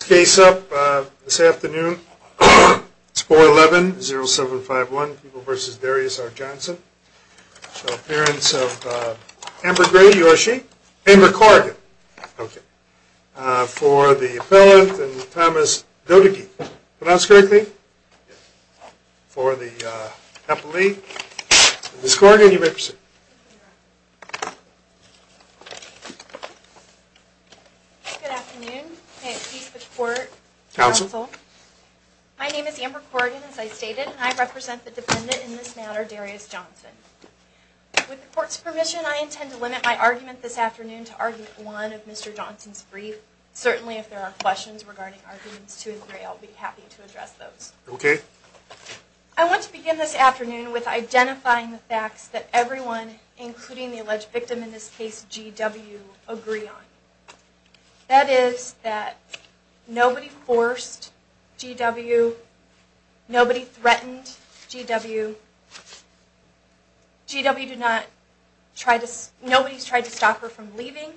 Case up this afternoon. It's 411 0751 people versus Darius R. Johnson. Appearance of Amber Gray. Amber Corrigan. For the appellant, Thomas Dodeke. Pronounce correctly. For the appellee, Ms. Corrigan, you may proceed. Good afternoon. May it please the court. Counsel. My name is Amber Corrigan, as I stated, and I represent the defendant in this matter, Darius Johnson. With the court's permission, I intend to limit my argument this afternoon to argument one of Mr. Johnson's brief. Certainly, if there are questions regarding arguments two and three, I'll be happy to address those. Okay. I want to begin this afternoon with identifying the facts that everyone, including the alleged victim in this case, GW, agree on. That is that nobody forced GW. Nobody threatened GW. GW did not try to, nobody's tried to stop her from leaving.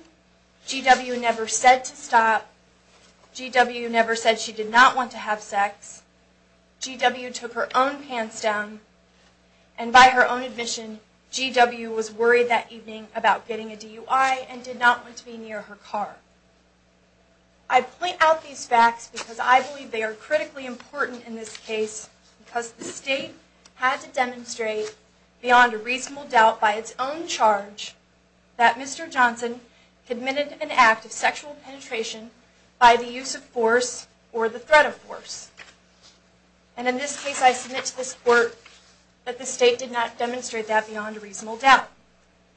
GW never said to stop. GW never said she did not want to have sex. GW took her own pants down. And by her own admission, GW was worried that evening about getting a DUI and did not want to be near her car. I point out these facts because I believe they are critically important in this case because the state had to demonstrate beyond a reasonable doubt by its own charge that Mr. Johnson committed an act of sexual penetration by the use of force or the threat of force. And in this case, I submit to this court that the state did not demonstrate that beyond a reasonable doubt.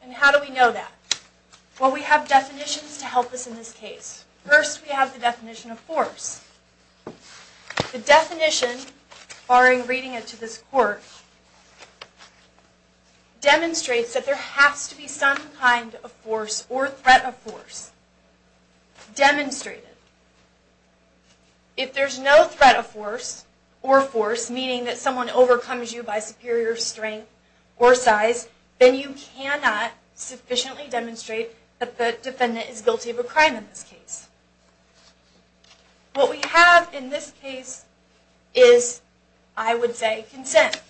And how do we know that? Well, we have definitions to help us in this case. First, we have the definition of force. The definition, barring reading it to this court, demonstrates that there has to be some kind of force or threat of force demonstrated. If there's no threat of force or force, meaning that someone overcomes you by superior strength or size, then you cannot sufficiently demonstrate that the defendant is guilty of a crime in this case. What we have in this case is, I would say, consent.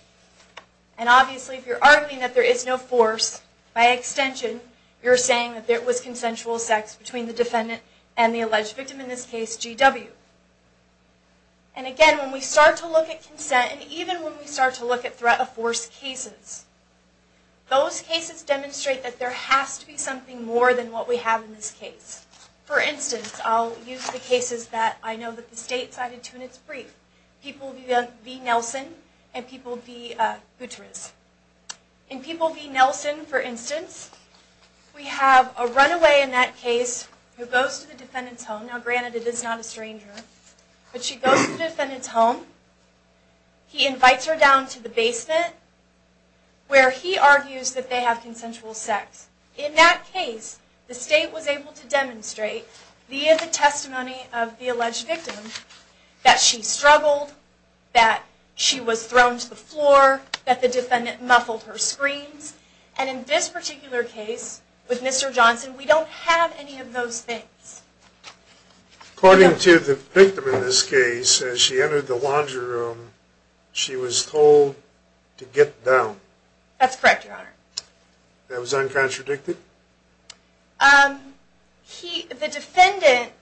And obviously, if you're arguing that there is no force, by extension, you're saying that there was consensual sex between the defendant and the alleged victim, in this case, GW. And again, when we start to look at consent, and even when we start to look at threat of force cases, those cases demonstrate that there has to be something more than what we have in this case. For instance, I'll use the cases that I know that the state cited to in its brief. People v. Nelson and people v. Boutrous. In people v. Nelson, for instance, we have a runaway in that case who goes to the defendant's home. Now, granted, it is not a stranger. But she goes to the defendant's home. He invites her down to the basement, where he argues that they have consensual sex. In that case, the state was able to demonstrate, via the testimony of the alleged victim, that she struggled, that she was thrown to the floor, that the defendant muffled her screams. And in this particular case, with Mr. Johnson, we don't have any of those things. According to the victim in this case, as she entered the laundry room, she was told to get down. That's correct, Your Honor. That was uncontradicted? The defendant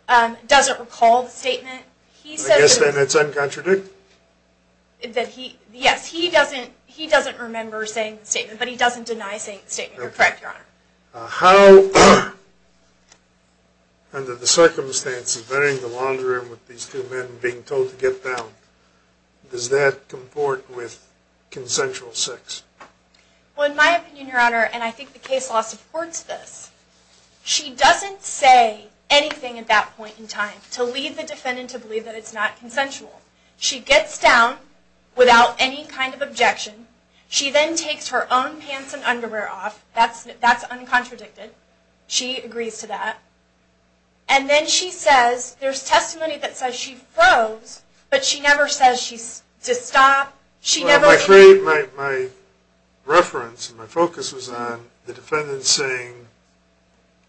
doesn't recall the statement. I guess then it's uncontradicted? Yes, he doesn't remember saying the statement, but he doesn't deny saying the statement. You're correct, Your Honor. How, under the circumstances of entering the laundry room with these two men and being told to get down, does that comport with consensual sex? Well, in my opinion, Your Honor, and I think the case law supports this, she doesn't say anything at that point in time to lead the defendant to believe that it's not consensual. She gets down without any kind of objection. She then takes her own pants and underwear off. That's uncontradicted. She agrees to that. And then she says, there's testimony that says she froze, but she never says to stop. My reference, my focus was on the defendant saying,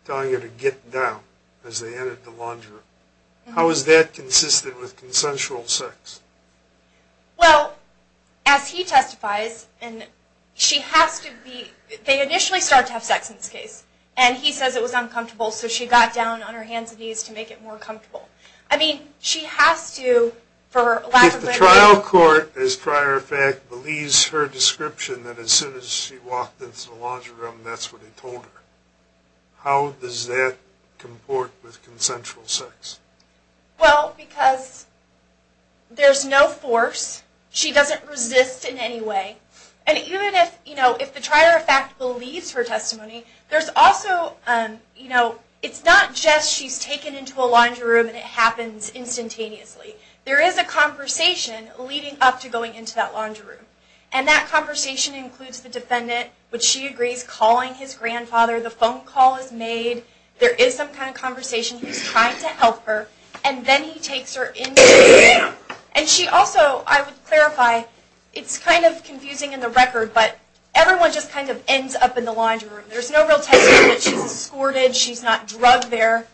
telling her to get down as they entered the laundry room. How is that consistent with consensual sex? Well, as he testifies, she has to be, they initially start to have sex in this case, and he says it was uncomfortable, so she got down on her hands and knees to make it more comfortable. I mean, she has to, for lack of a better word. The trial court, as a prior fact, believes her description that as soon as she walked into the laundry room, that's what he told her. How does that comport with consensual sex? Well, because there's no force. She doesn't resist in any way. And even if, you know, if the prior fact believes her testimony, there's also, you know, it's not just she's taken into a laundry room and it happens instantaneously. There is a conversation leading up to going into that laundry room. And that conversation includes the defendant, which she agrees, calling his grandfather, the phone call is made, there is some kind of conversation, he's trying to help her, and then he takes her into the laundry room. And she also, I would clarify, it's kind of confusing in the record, but everyone just kind of ends up in the laundry room. There's no real testimony that she's escorted, she's not drugged there.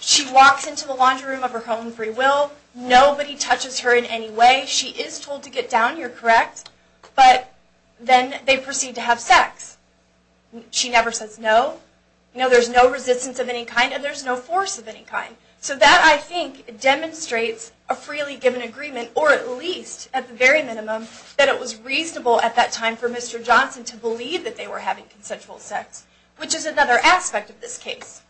She walks into the laundry room of her home free will. Nobody touches her in any way. She is told to get down, you're correct, but then they proceed to have sex. She never says no. You know, there's no resistance of any kind and there's no force of any kind. So that, I think, demonstrates a freely given agreement, or at least at the very minimum, that it was reasonable at that time for Mr. Johnson to believe that they were having consensual sex, which is another aspect of this case.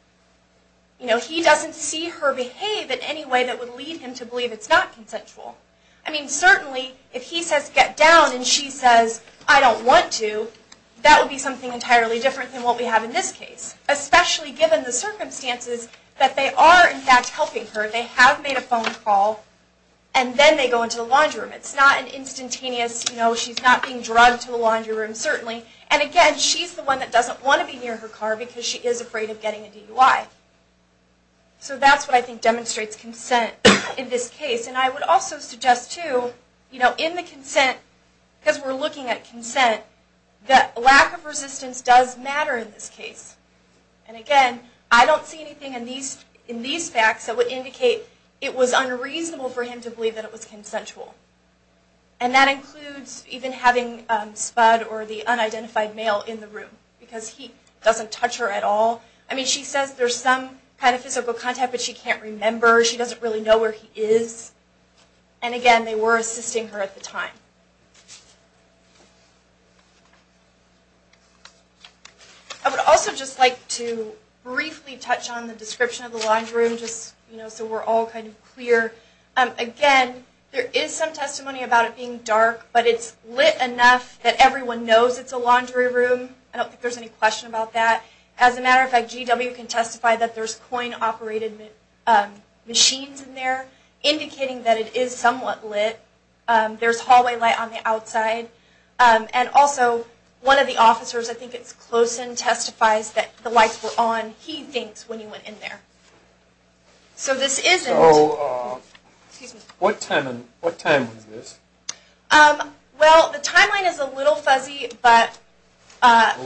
You know, he doesn't see her behave in any way that would lead him to believe it's not consensual. I mean, certainly, if he says, get down, and she says, I don't want to, that would be something entirely different than what we have in this case, especially given the circumstances that they are, in fact, helping her. They have made a phone call, and then they go into the laundry room. It's not an instantaneous, you know, she's not being drugged to the laundry room, certainly. And again, she's the one that doesn't want to be near her car because she is afraid of getting a DUI. So that's what I think demonstrates consent in this case. And I would also suggest, too, you know, in the consent, because we're looking at consent, that lack of resistance does matter in this case. And again, I don't see anything in these facts that would indicate it was unreasonable for him to believe that it was consensual. And that includes even having Spud or the unidentified male in the room, because he doesn't touch her at all. I mean, she says there's some kind of physical contact, but she can't remember. She doesn't really know where he is. And again, they were assisting her at the time. I would also just like to briefly touch on the description of the laundry room, just, you know, so we're all kind of clear. Again, there is some testimony about it being dark, but it's lit enough that everyone knows it's a laundry room. I don't think there's any question about that. As a matter of fact, GW can testify that there's coin-operated machines in there, indicating that it is somewhat lit. There's hallway light on the outside. And also, one of the officers, I think it's Closen, testifies that the lights were on, he thinks, when he went in there. So this isn't... So, what time was this? Well, the timeline is a little fuzzy, but...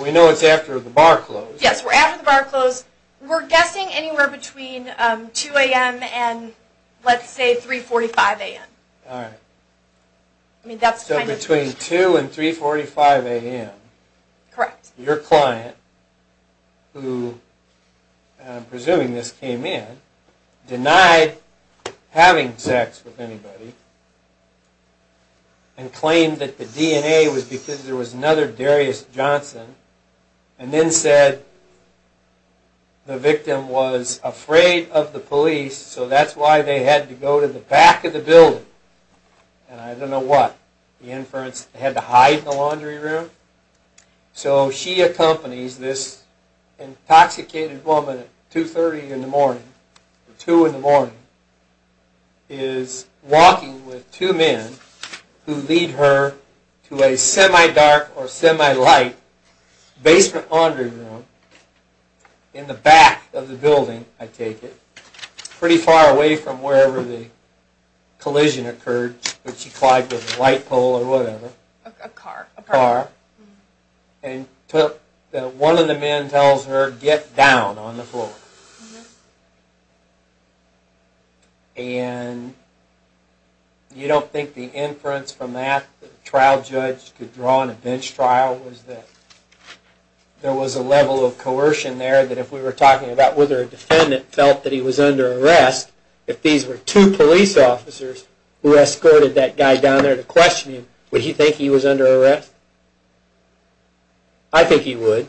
We know it's after the bar closed. Yes, we're after the bar closed. We're guessing anywhere between 2 a.m. and, let's say, 3.45 a.m. All right. So between 2 and 3.45 a.m. Correct. Your client, who, I'm presuming this came in, denied having sex with anybody, and claimed that the DNA was because there was another Darius Johnson, and then said the victim was afraid of the police, so that's why they had to go to the back of the building. And I don't know what, the inference, they had to hide in the laundry room? So she accompanies this intoxicated woman at 2.30 in the morning, or 2 in the morning, is walking with two men who lead her to a semi-dark or semi-light basement laundry room in the back of the building, I take it, pretty far away from wherever the collision occurred, but she collided with a light pole or whatever. A car. A car. And one of the men tells her, get down on the floor. And you don't think the inference from that that a trial judge could draw in a bench trial was that there was a level of coercion there that if we were talking about whether a defendant felt that he was under arrest, if these were two police officers who escorted that guy down there to question him, would he think he was under arrest? I think he would.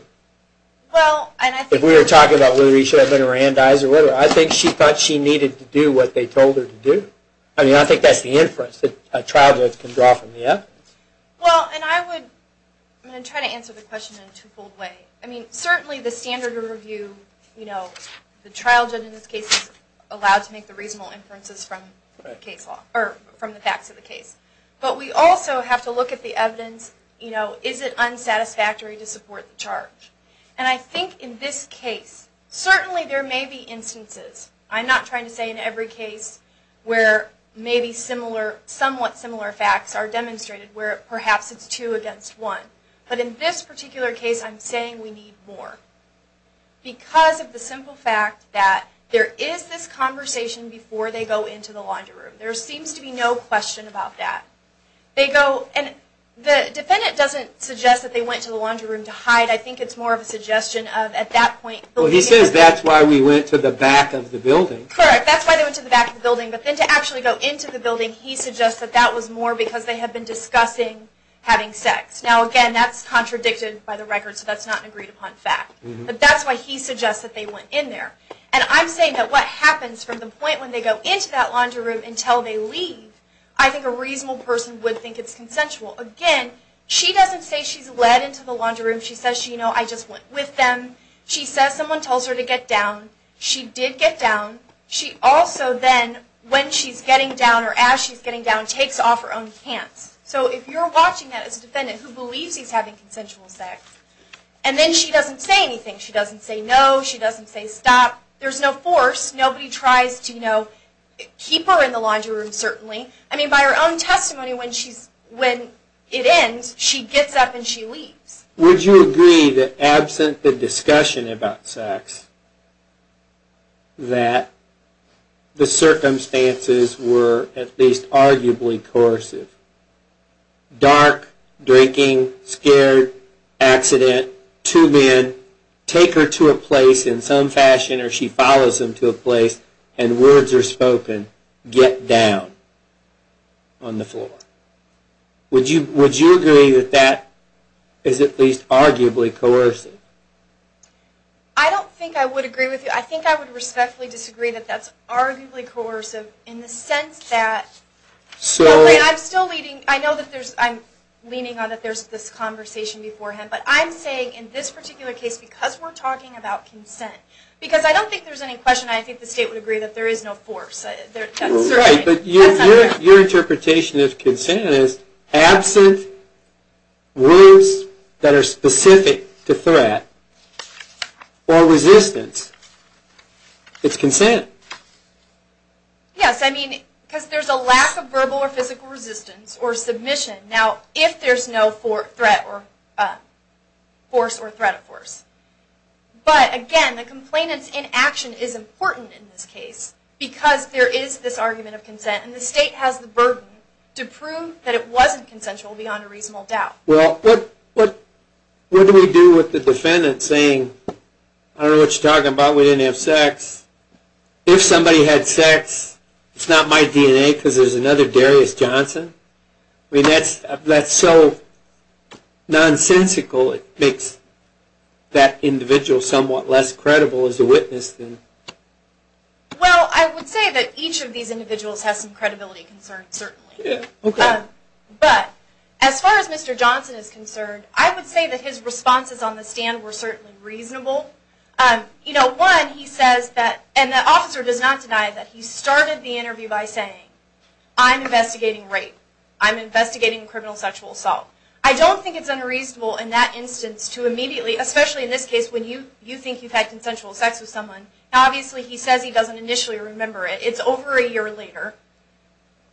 If we were talking about whether he should have been arandized or whatever, I think she thought she needed to do what they told her to do. I mean, I think that's the inference that a trial judge can draw from the evidence. Well, and I would, I'm going to try to answer the question in a two-fold way. I mean, certainly the standard review, you know, the trial judge in this case is allowed to make the reasonable inferences from the facts of the case. But we also have to look at the evidence, you know, is it unsatisfactory to support the charge? And I think in this case, certainly there may be instances, I'm not trying to say in every case, where maybe somewhat similar facts are demonstrated where perhaps it's two against one. But in this particular case, I'm saying we need more. Because of the simple fact that there is this conversation before they go into the laundry room. There seems to be no question about that. They go, and the defendant doesn't suggest that they went to the laundry room to hide. I think it's more of a suggestion of at that point. Well, he says that's why we went to the back of the building. Correct. That's why they went to the back of the building. But then to actually go into the building, he suggests that that was more because they had been discussing having sex. Now, again, that's contradicted by the record, so that's not an agreed upon fact. But that's why he suggests that they went in there. And I'm saying that what happens from the point when they go into that laundry room until they leave, I think a reasonable person would think it's consensual. Again, she doesn't say she's led into the laundry room. She says, you know, I just went with them. She says someone tells her to get down. She did get down. She also then, when she's getting down or as she's getting down, takes off her own pants. So if you're watching that as a defendant who believes he's having consensual sex, and then she doesn't say anything. She doesn't say no. She doesn't say stop. There's no force. Nobody tries to, you know, keep her in the laundry room, certainly. I mean, by her own testimony, when it ends, she gets up and she leaves. Would you agree that absent the discussion about sex, that the circumstances were at least arguably coercive? Dark, drinking, scared, accident, two men, take her to a place in some fashion or she follows them to a place, and words are spoken, get down on the floor. Would you agree that that is at least arguably coercive? I don't think I would agree with you. I think I would respectfully disagree that that's arguably coercive in the sense that, and I'm still leaning, I know that there's, I'm leaning on that there's this conversation beforehand, but I'm saying in this particular case, because we're talking about consent, because I don't think there's any question I think the state would agree that there is no force. Right, but your interpretation of consent is absent words that are specific to threat or resistance. It's consent. Yes, I mean, because there's a lack of verbal or physical resistance or submission. Now, if there's no threat or force or threat of force. But again, the complainant's inaction is important in this case, because there is this argument of consent, and the state has the burden to prove that it wasn't consensual beyond a reasonable doubt. Well, what do we do with the defendant saying, I don't know what you're talking about, we didn't have sex. If somebody had sex, it's not my DNA because there's another Darius Johnson. I mean, that's so nonsensical, it makes that individual somewhat less credible as a witness. Well, I would say that each of these individuals has some credibility concerns, certainly. But as far as Mr. Johnson is concerned, I would say that his responses on the stand were certainly reasonable. You know, one, he says that, and the officer does not deny that, he started the interview by saying, I'm investigating rape. I'm investigating criminal sexual assault. I don't think it's unreasonable in that instance to immediately, especially in this case when you think you've had consensual sex with someone, obviously he says he doesn't initially remember it. It's over a year later.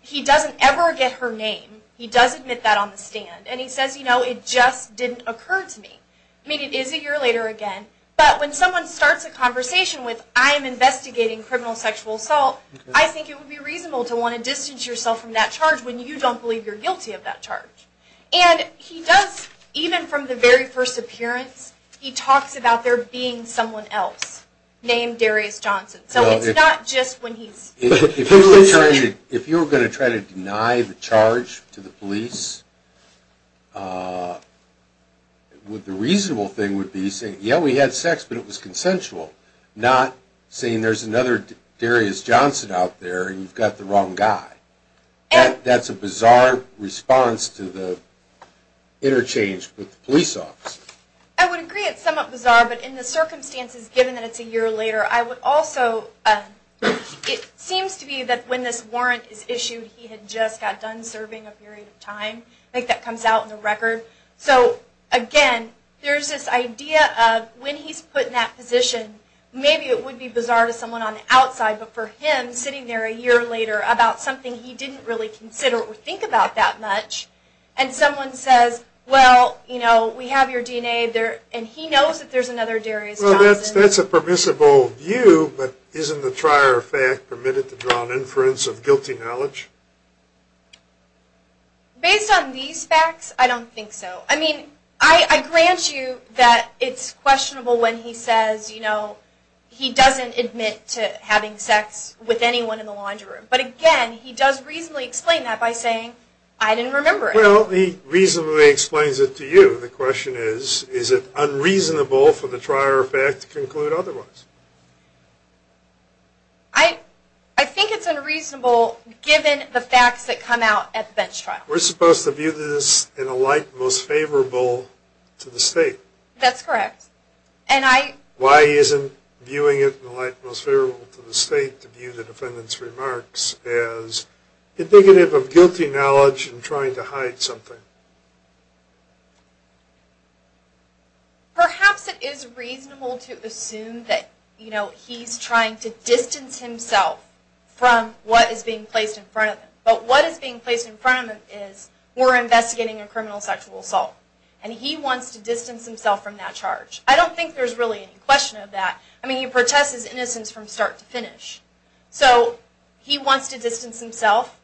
He doesn't ever get her name. He does admit that on the stand. And he says, you know, it just didn't occur to me. I mean, it is a year later again. But when someone starts a conversation with, I'm investigating criminal sexual assault, I think it would be reasonable to want to distance yourself from that charge when you don't believe you're guilty of that charge. And he does, even from the very first appearance, he talks about there being someone else named Darius Johnson. So it's not just when he's... The reasonable thing would be saying, yeah, we had sex, but it was consensual, not saying there's another Darius Johnson out there and you've got the wrong guy. That's a bizarre response to the interchange with the police officer. I would agree it's somewhat bizarre, but in the circumstances, given that it's a year later, I would also... It seems to me that when this warrant is issued, he had just got done serving a period of time. I think that comes out in the record. So, again, there's this idea of when he's put in that position, maybe it would be bizarre to someone on the outside, but for him, sitting there a year later, about something he didn't really consider or think about that much, and someone says, well, you know, we have your DNA there, and he knows that there's another Darius Johnson. Well, that's a permissible view, but isn't the prior fact permitted to draw an inference of guilty knowledge? Based on these facts, I don't think so. I mean, I grant you that it's questionable when he says, you know, he doesn't admit to having sex with anyone in the laundry room, but, again, he does reasonably explain that by saying, I didn't remember it. Well, he reasonably explains it to you. The question is, is it unreasonable for the prior fact to conclude otherwise? I think it's unreasonable, given the facts that come out at the bench trial. We're supposed to view this in a light most favorable to the state. That's correct. Why isn't viewing it in a light most favorable to the state to view the defendant's remarks as indicative of guilty knowledge and trying to hide something? Perhaps it is reasonable to assume that, you know, he's trying to distance himself from what is being placed in front of him. But what is being placed in front of him is, we're investigating a criminal sexual assault, and he wants to distance himself from that charge. I don't think there's really any question of that. I mean, he protests his innocence from start to finish. So, he wants to distance himself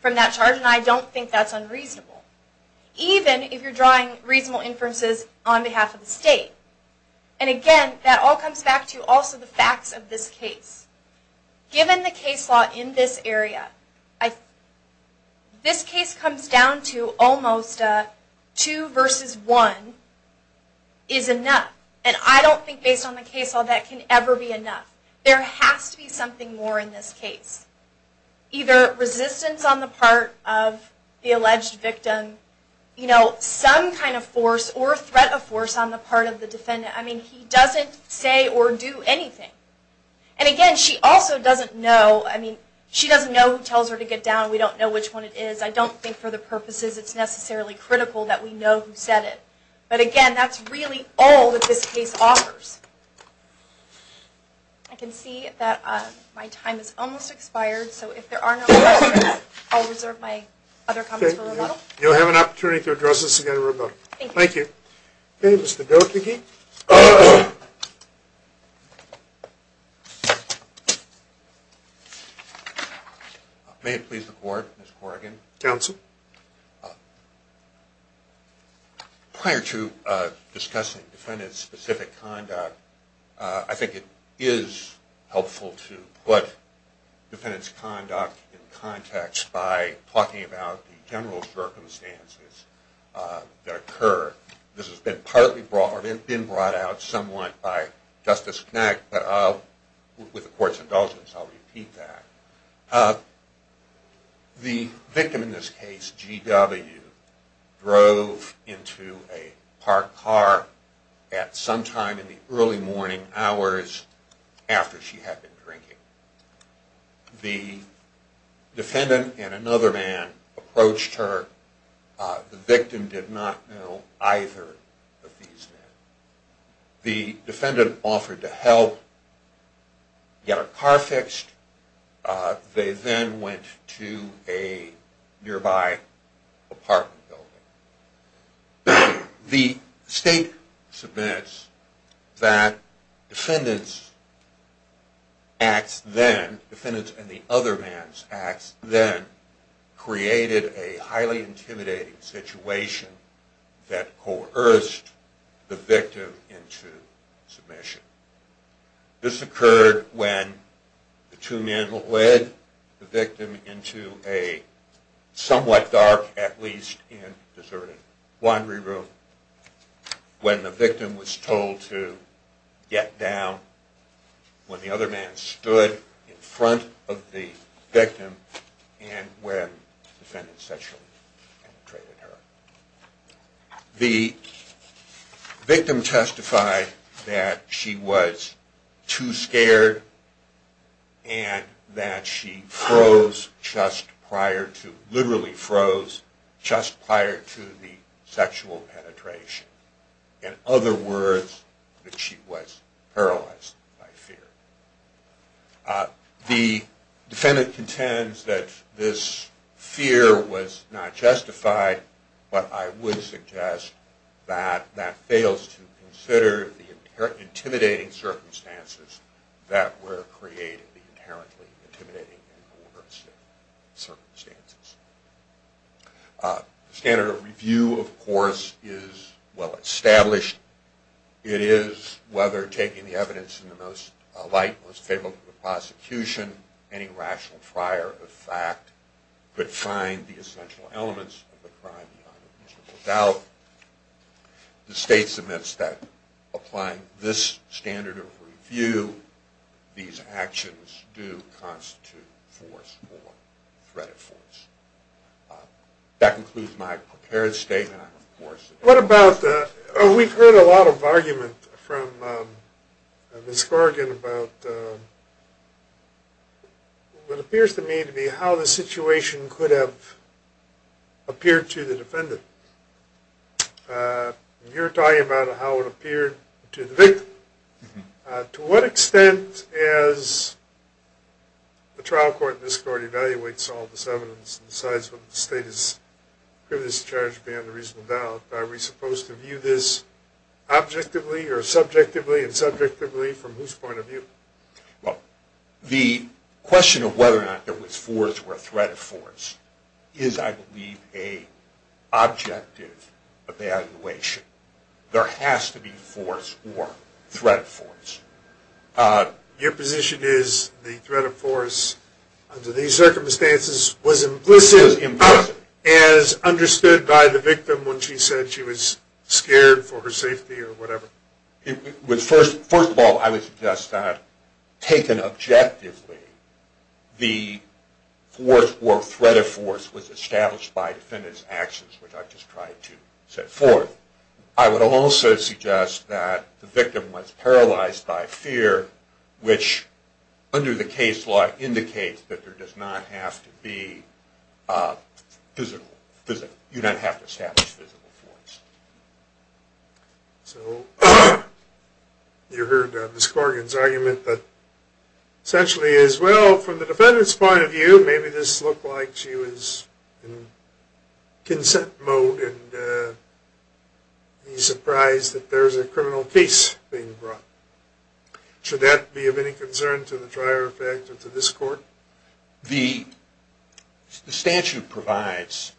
from that charge, and I don't think that's unreasonable. Even if you're drawing reasonable inferences on behalf of the state. And again, that all comes back to also the facts of this case. Given the case law in this area, this case comes down to almost a two versus one is enough. And I don't think, based on the case law, that can ever be enough. There has to be something more in this case. Either resistance on the part of the alleged victim, you know, some kind of force or threat of force on the part of the defendant. I mean, he doesn't say or do anything. And again, she also doesn't know, I mean, she doesn't know who tells her to get down. We don't know which one it is. I don't think for the purposes it's necessarily critical that we know who said it. But again, that's really all that this case offers. I can see that my time has almost expired, so if there are no questions, I'll reserve my other comments for a moment. You'll have an opportunity to address this again remotely. Thank you. Thank you. Okay, Mr. Doherty. May it please the Court, Ms. Corrigan. Counsel. Prior to discussing defendant-specific conduct, I think it is helpful to put defendant's conduct in context by talking about the general circumstances that occur. This has been partly brought, or it has been brought out somewhat by Justice Knack, but with the Court's indulgence, I'll repeat that. The victim in this case, G.W., drove into a parked car at some time in the early morning hours after she had been drinking. The defendant and another man approached her. The victim did not know either of these men. The defendant offered to help get her car fixed. They then went to a nearby apartment building. The State submits that defendant's acts then, defendant and the other man's acts then, created a highly intimidating situation that coerced the victim into submission. This occurred when the two men led the victim into a somewhat dark, at least in a deserted laundry room, when the victim was told to get down, when the other man stood in front of the victim and when the defendant sexually penetrated her. The victim testified that she was too scared and that she froze just prior to, literally froze, just prior to the sexual penetration. In other words, that she was paralyzed by fear. The defendant contends that this fear was not justified, but I would suggest that that fails to consider the intimidating circumstances that were created, the inherently intimidating circumstances. The standard of review, of course, is well established. It is whether taking the evidence in the most light, most favorable to the prosecution, any rational prior of fact could find the essential elements of the crime beyond the reasonable doubt. The State submits that applying this standard of review, these actions do constitute force or threat of force. That concludes my prepared statement. What about, we've heard a lot of argument from Ms. Corrigan about what appears to me to be how the situation could have appeared to the defendant. You're talking about how it appeared to the victim. To what extent, as the trial court and this court evaluates all this evidence and decides whether the State is privileged to charge beyond the reasonable doubt, are we supposed to view this objectively or subjectively and subjectively from whose point of view? The question of whether or not there was force or threat of force is, I believe, an objective evaluation. There has to be force or threat of force. Your position is the threat of force under these circumstances was implicit as understood by the victim when she said she was scared for her safety or whatever. First of all, I would suggest that taken objectively, the force or threat of force was established by the defendant's actions, which I've just tried to set forth. I would also suggest that the victim was paralyzed by fear, which, under the case law, indicates that there does not have to be physical force. You heard Ms. Corrigan's argument. Essentially, from the defendant's point of view, maybe this looked like she was in consent mode and he's surprised that there's a criminal case being brought. Should that be of any concern to the trier effect or to this court? The statute provides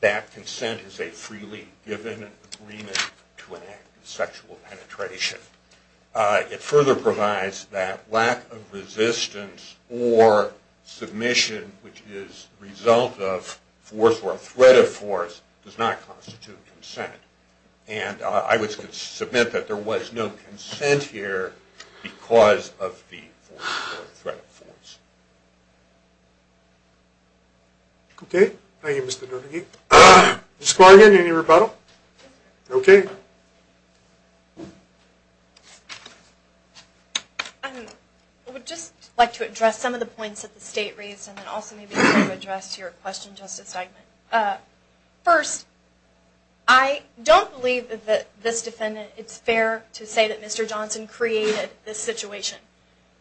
that consent is a freely given agreement to an act of sexual penetration. It further provides that lack of resistance or submission, which is the result of force or threat of force, does not constitute consent. I would submit that there was no consent here because of the force or threat of force. Okay. Thank you, Mr. Doherty. Ms. Corrigan, any rebuttal? Okay. Thank you. I would just like to address some of the points that the State raised and also maybe address your question, Justice Steinman. First, I don't believe that this defendant, it's fair to say that Mr. Johnson created this situation.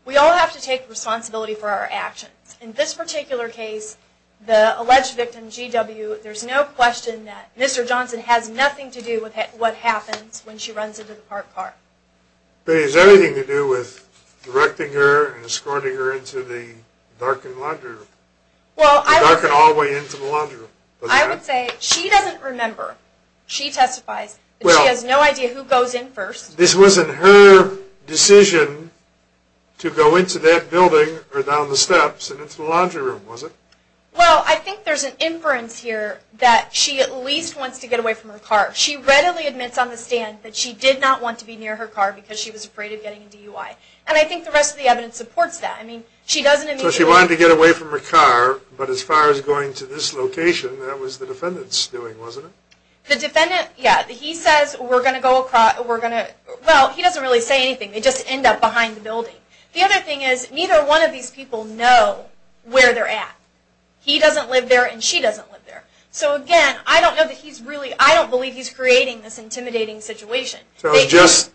We all have to take responsibility for our actions. In this particular case, the alleged victim, GW, there's no question that Mr. Johnson has nothing to do with what happens when she runs into the parked car. But is there anything to do with directing her and escorting her into the darkened laundry room? The darkened hallway into the laundry room? I would say she doesn't remember. She testifies. She has no idea who goes in first. This wasn't her decision to go into that building or down the steps and into the laundry room, was it? Well, I think there's an inference here that she at least wants to get away from her car. She readily admits on the stand that she did not want to be near her car because she was afraid of getting into UI. And I think the rest of the evidence supports that. I mean, she doesn't immediately... So she wanted to get away from her car, but as far as going to this location, that was the defendant's doing, wasn't it? The defendant, yeah. He says, we're going to go across, we're going to... Well, he doesn't really say anything. They just end up behind the building. The other thing is, neither one of these people know where they're at. He doesn't live there and she doesn't live there. So, again, I don't know that he's really... I don't believe he's creating this intimidating situation. So it's just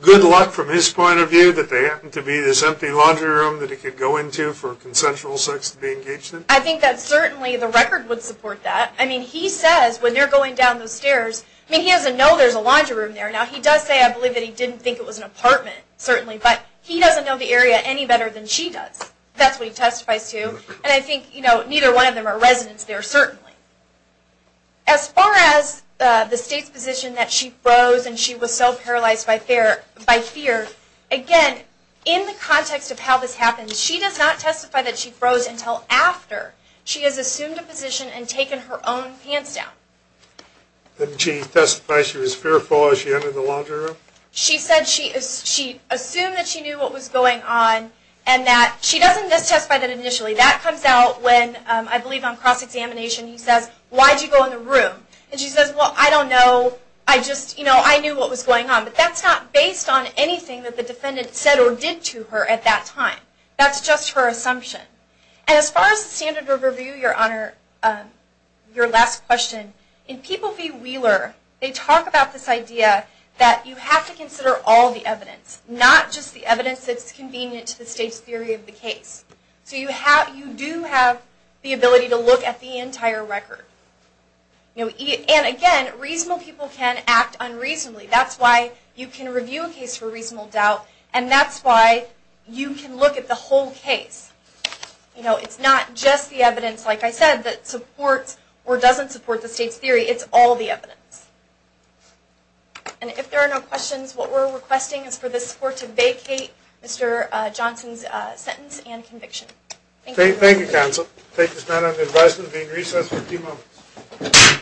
good luck from his point of view that there happened to be this empty laundry room that he could go into for consensual sex to be engaged in? I think that certainly the record would support that. I mean, he says when they're going down the stairs... I mean, he doesn't know there's a laundry room there. Now, he does say, I believe, that he didn't think it was an apartment, certainly, but he doesn't know the area any better than she does. That's what he testifies to, and I think, you know, neither one of them are residents there, certainly. As far as the state's position that she froze and she was so paralyzed by fear, again, in the context of how this happened, she does not testify that she froze until after she has assumed a position and taken her own pants down. Didn't she testify she was fearful as she entered the laundry room? She said she assumed that she knew what was going on and that she doesn't testify that initially. That comes out when, I believe, on cross-examination, he says, why did you go in the room? And she says, well, I don't know. I just, you know, I knew what was going on. But that's not based on anything that the defendant said or did to her at that time. That's just her assumption. And as far as the standard of review, Your Honor, your last question, in People v. Wheeler, they talk about this idea that you have to consider all the evidence, not just the evidence that's convenient to the state's theory of the case. So you do have the ability to look at the entire record. And, again, reasonable people can act unreasonably. That's why you can review a case for reasonable doubt, and that's why you can look at the whole case. You know, it's not just the evidence, like I said, that supports or doesn't support the state's theory. It's all the evidence. And if there are no questions, what we're requesting is for this Court to vacate Mr. Johnson's sentence and conviction. Thank you. Thank you, counsel. We'll take this matter under advisement, being recessed for a few moments.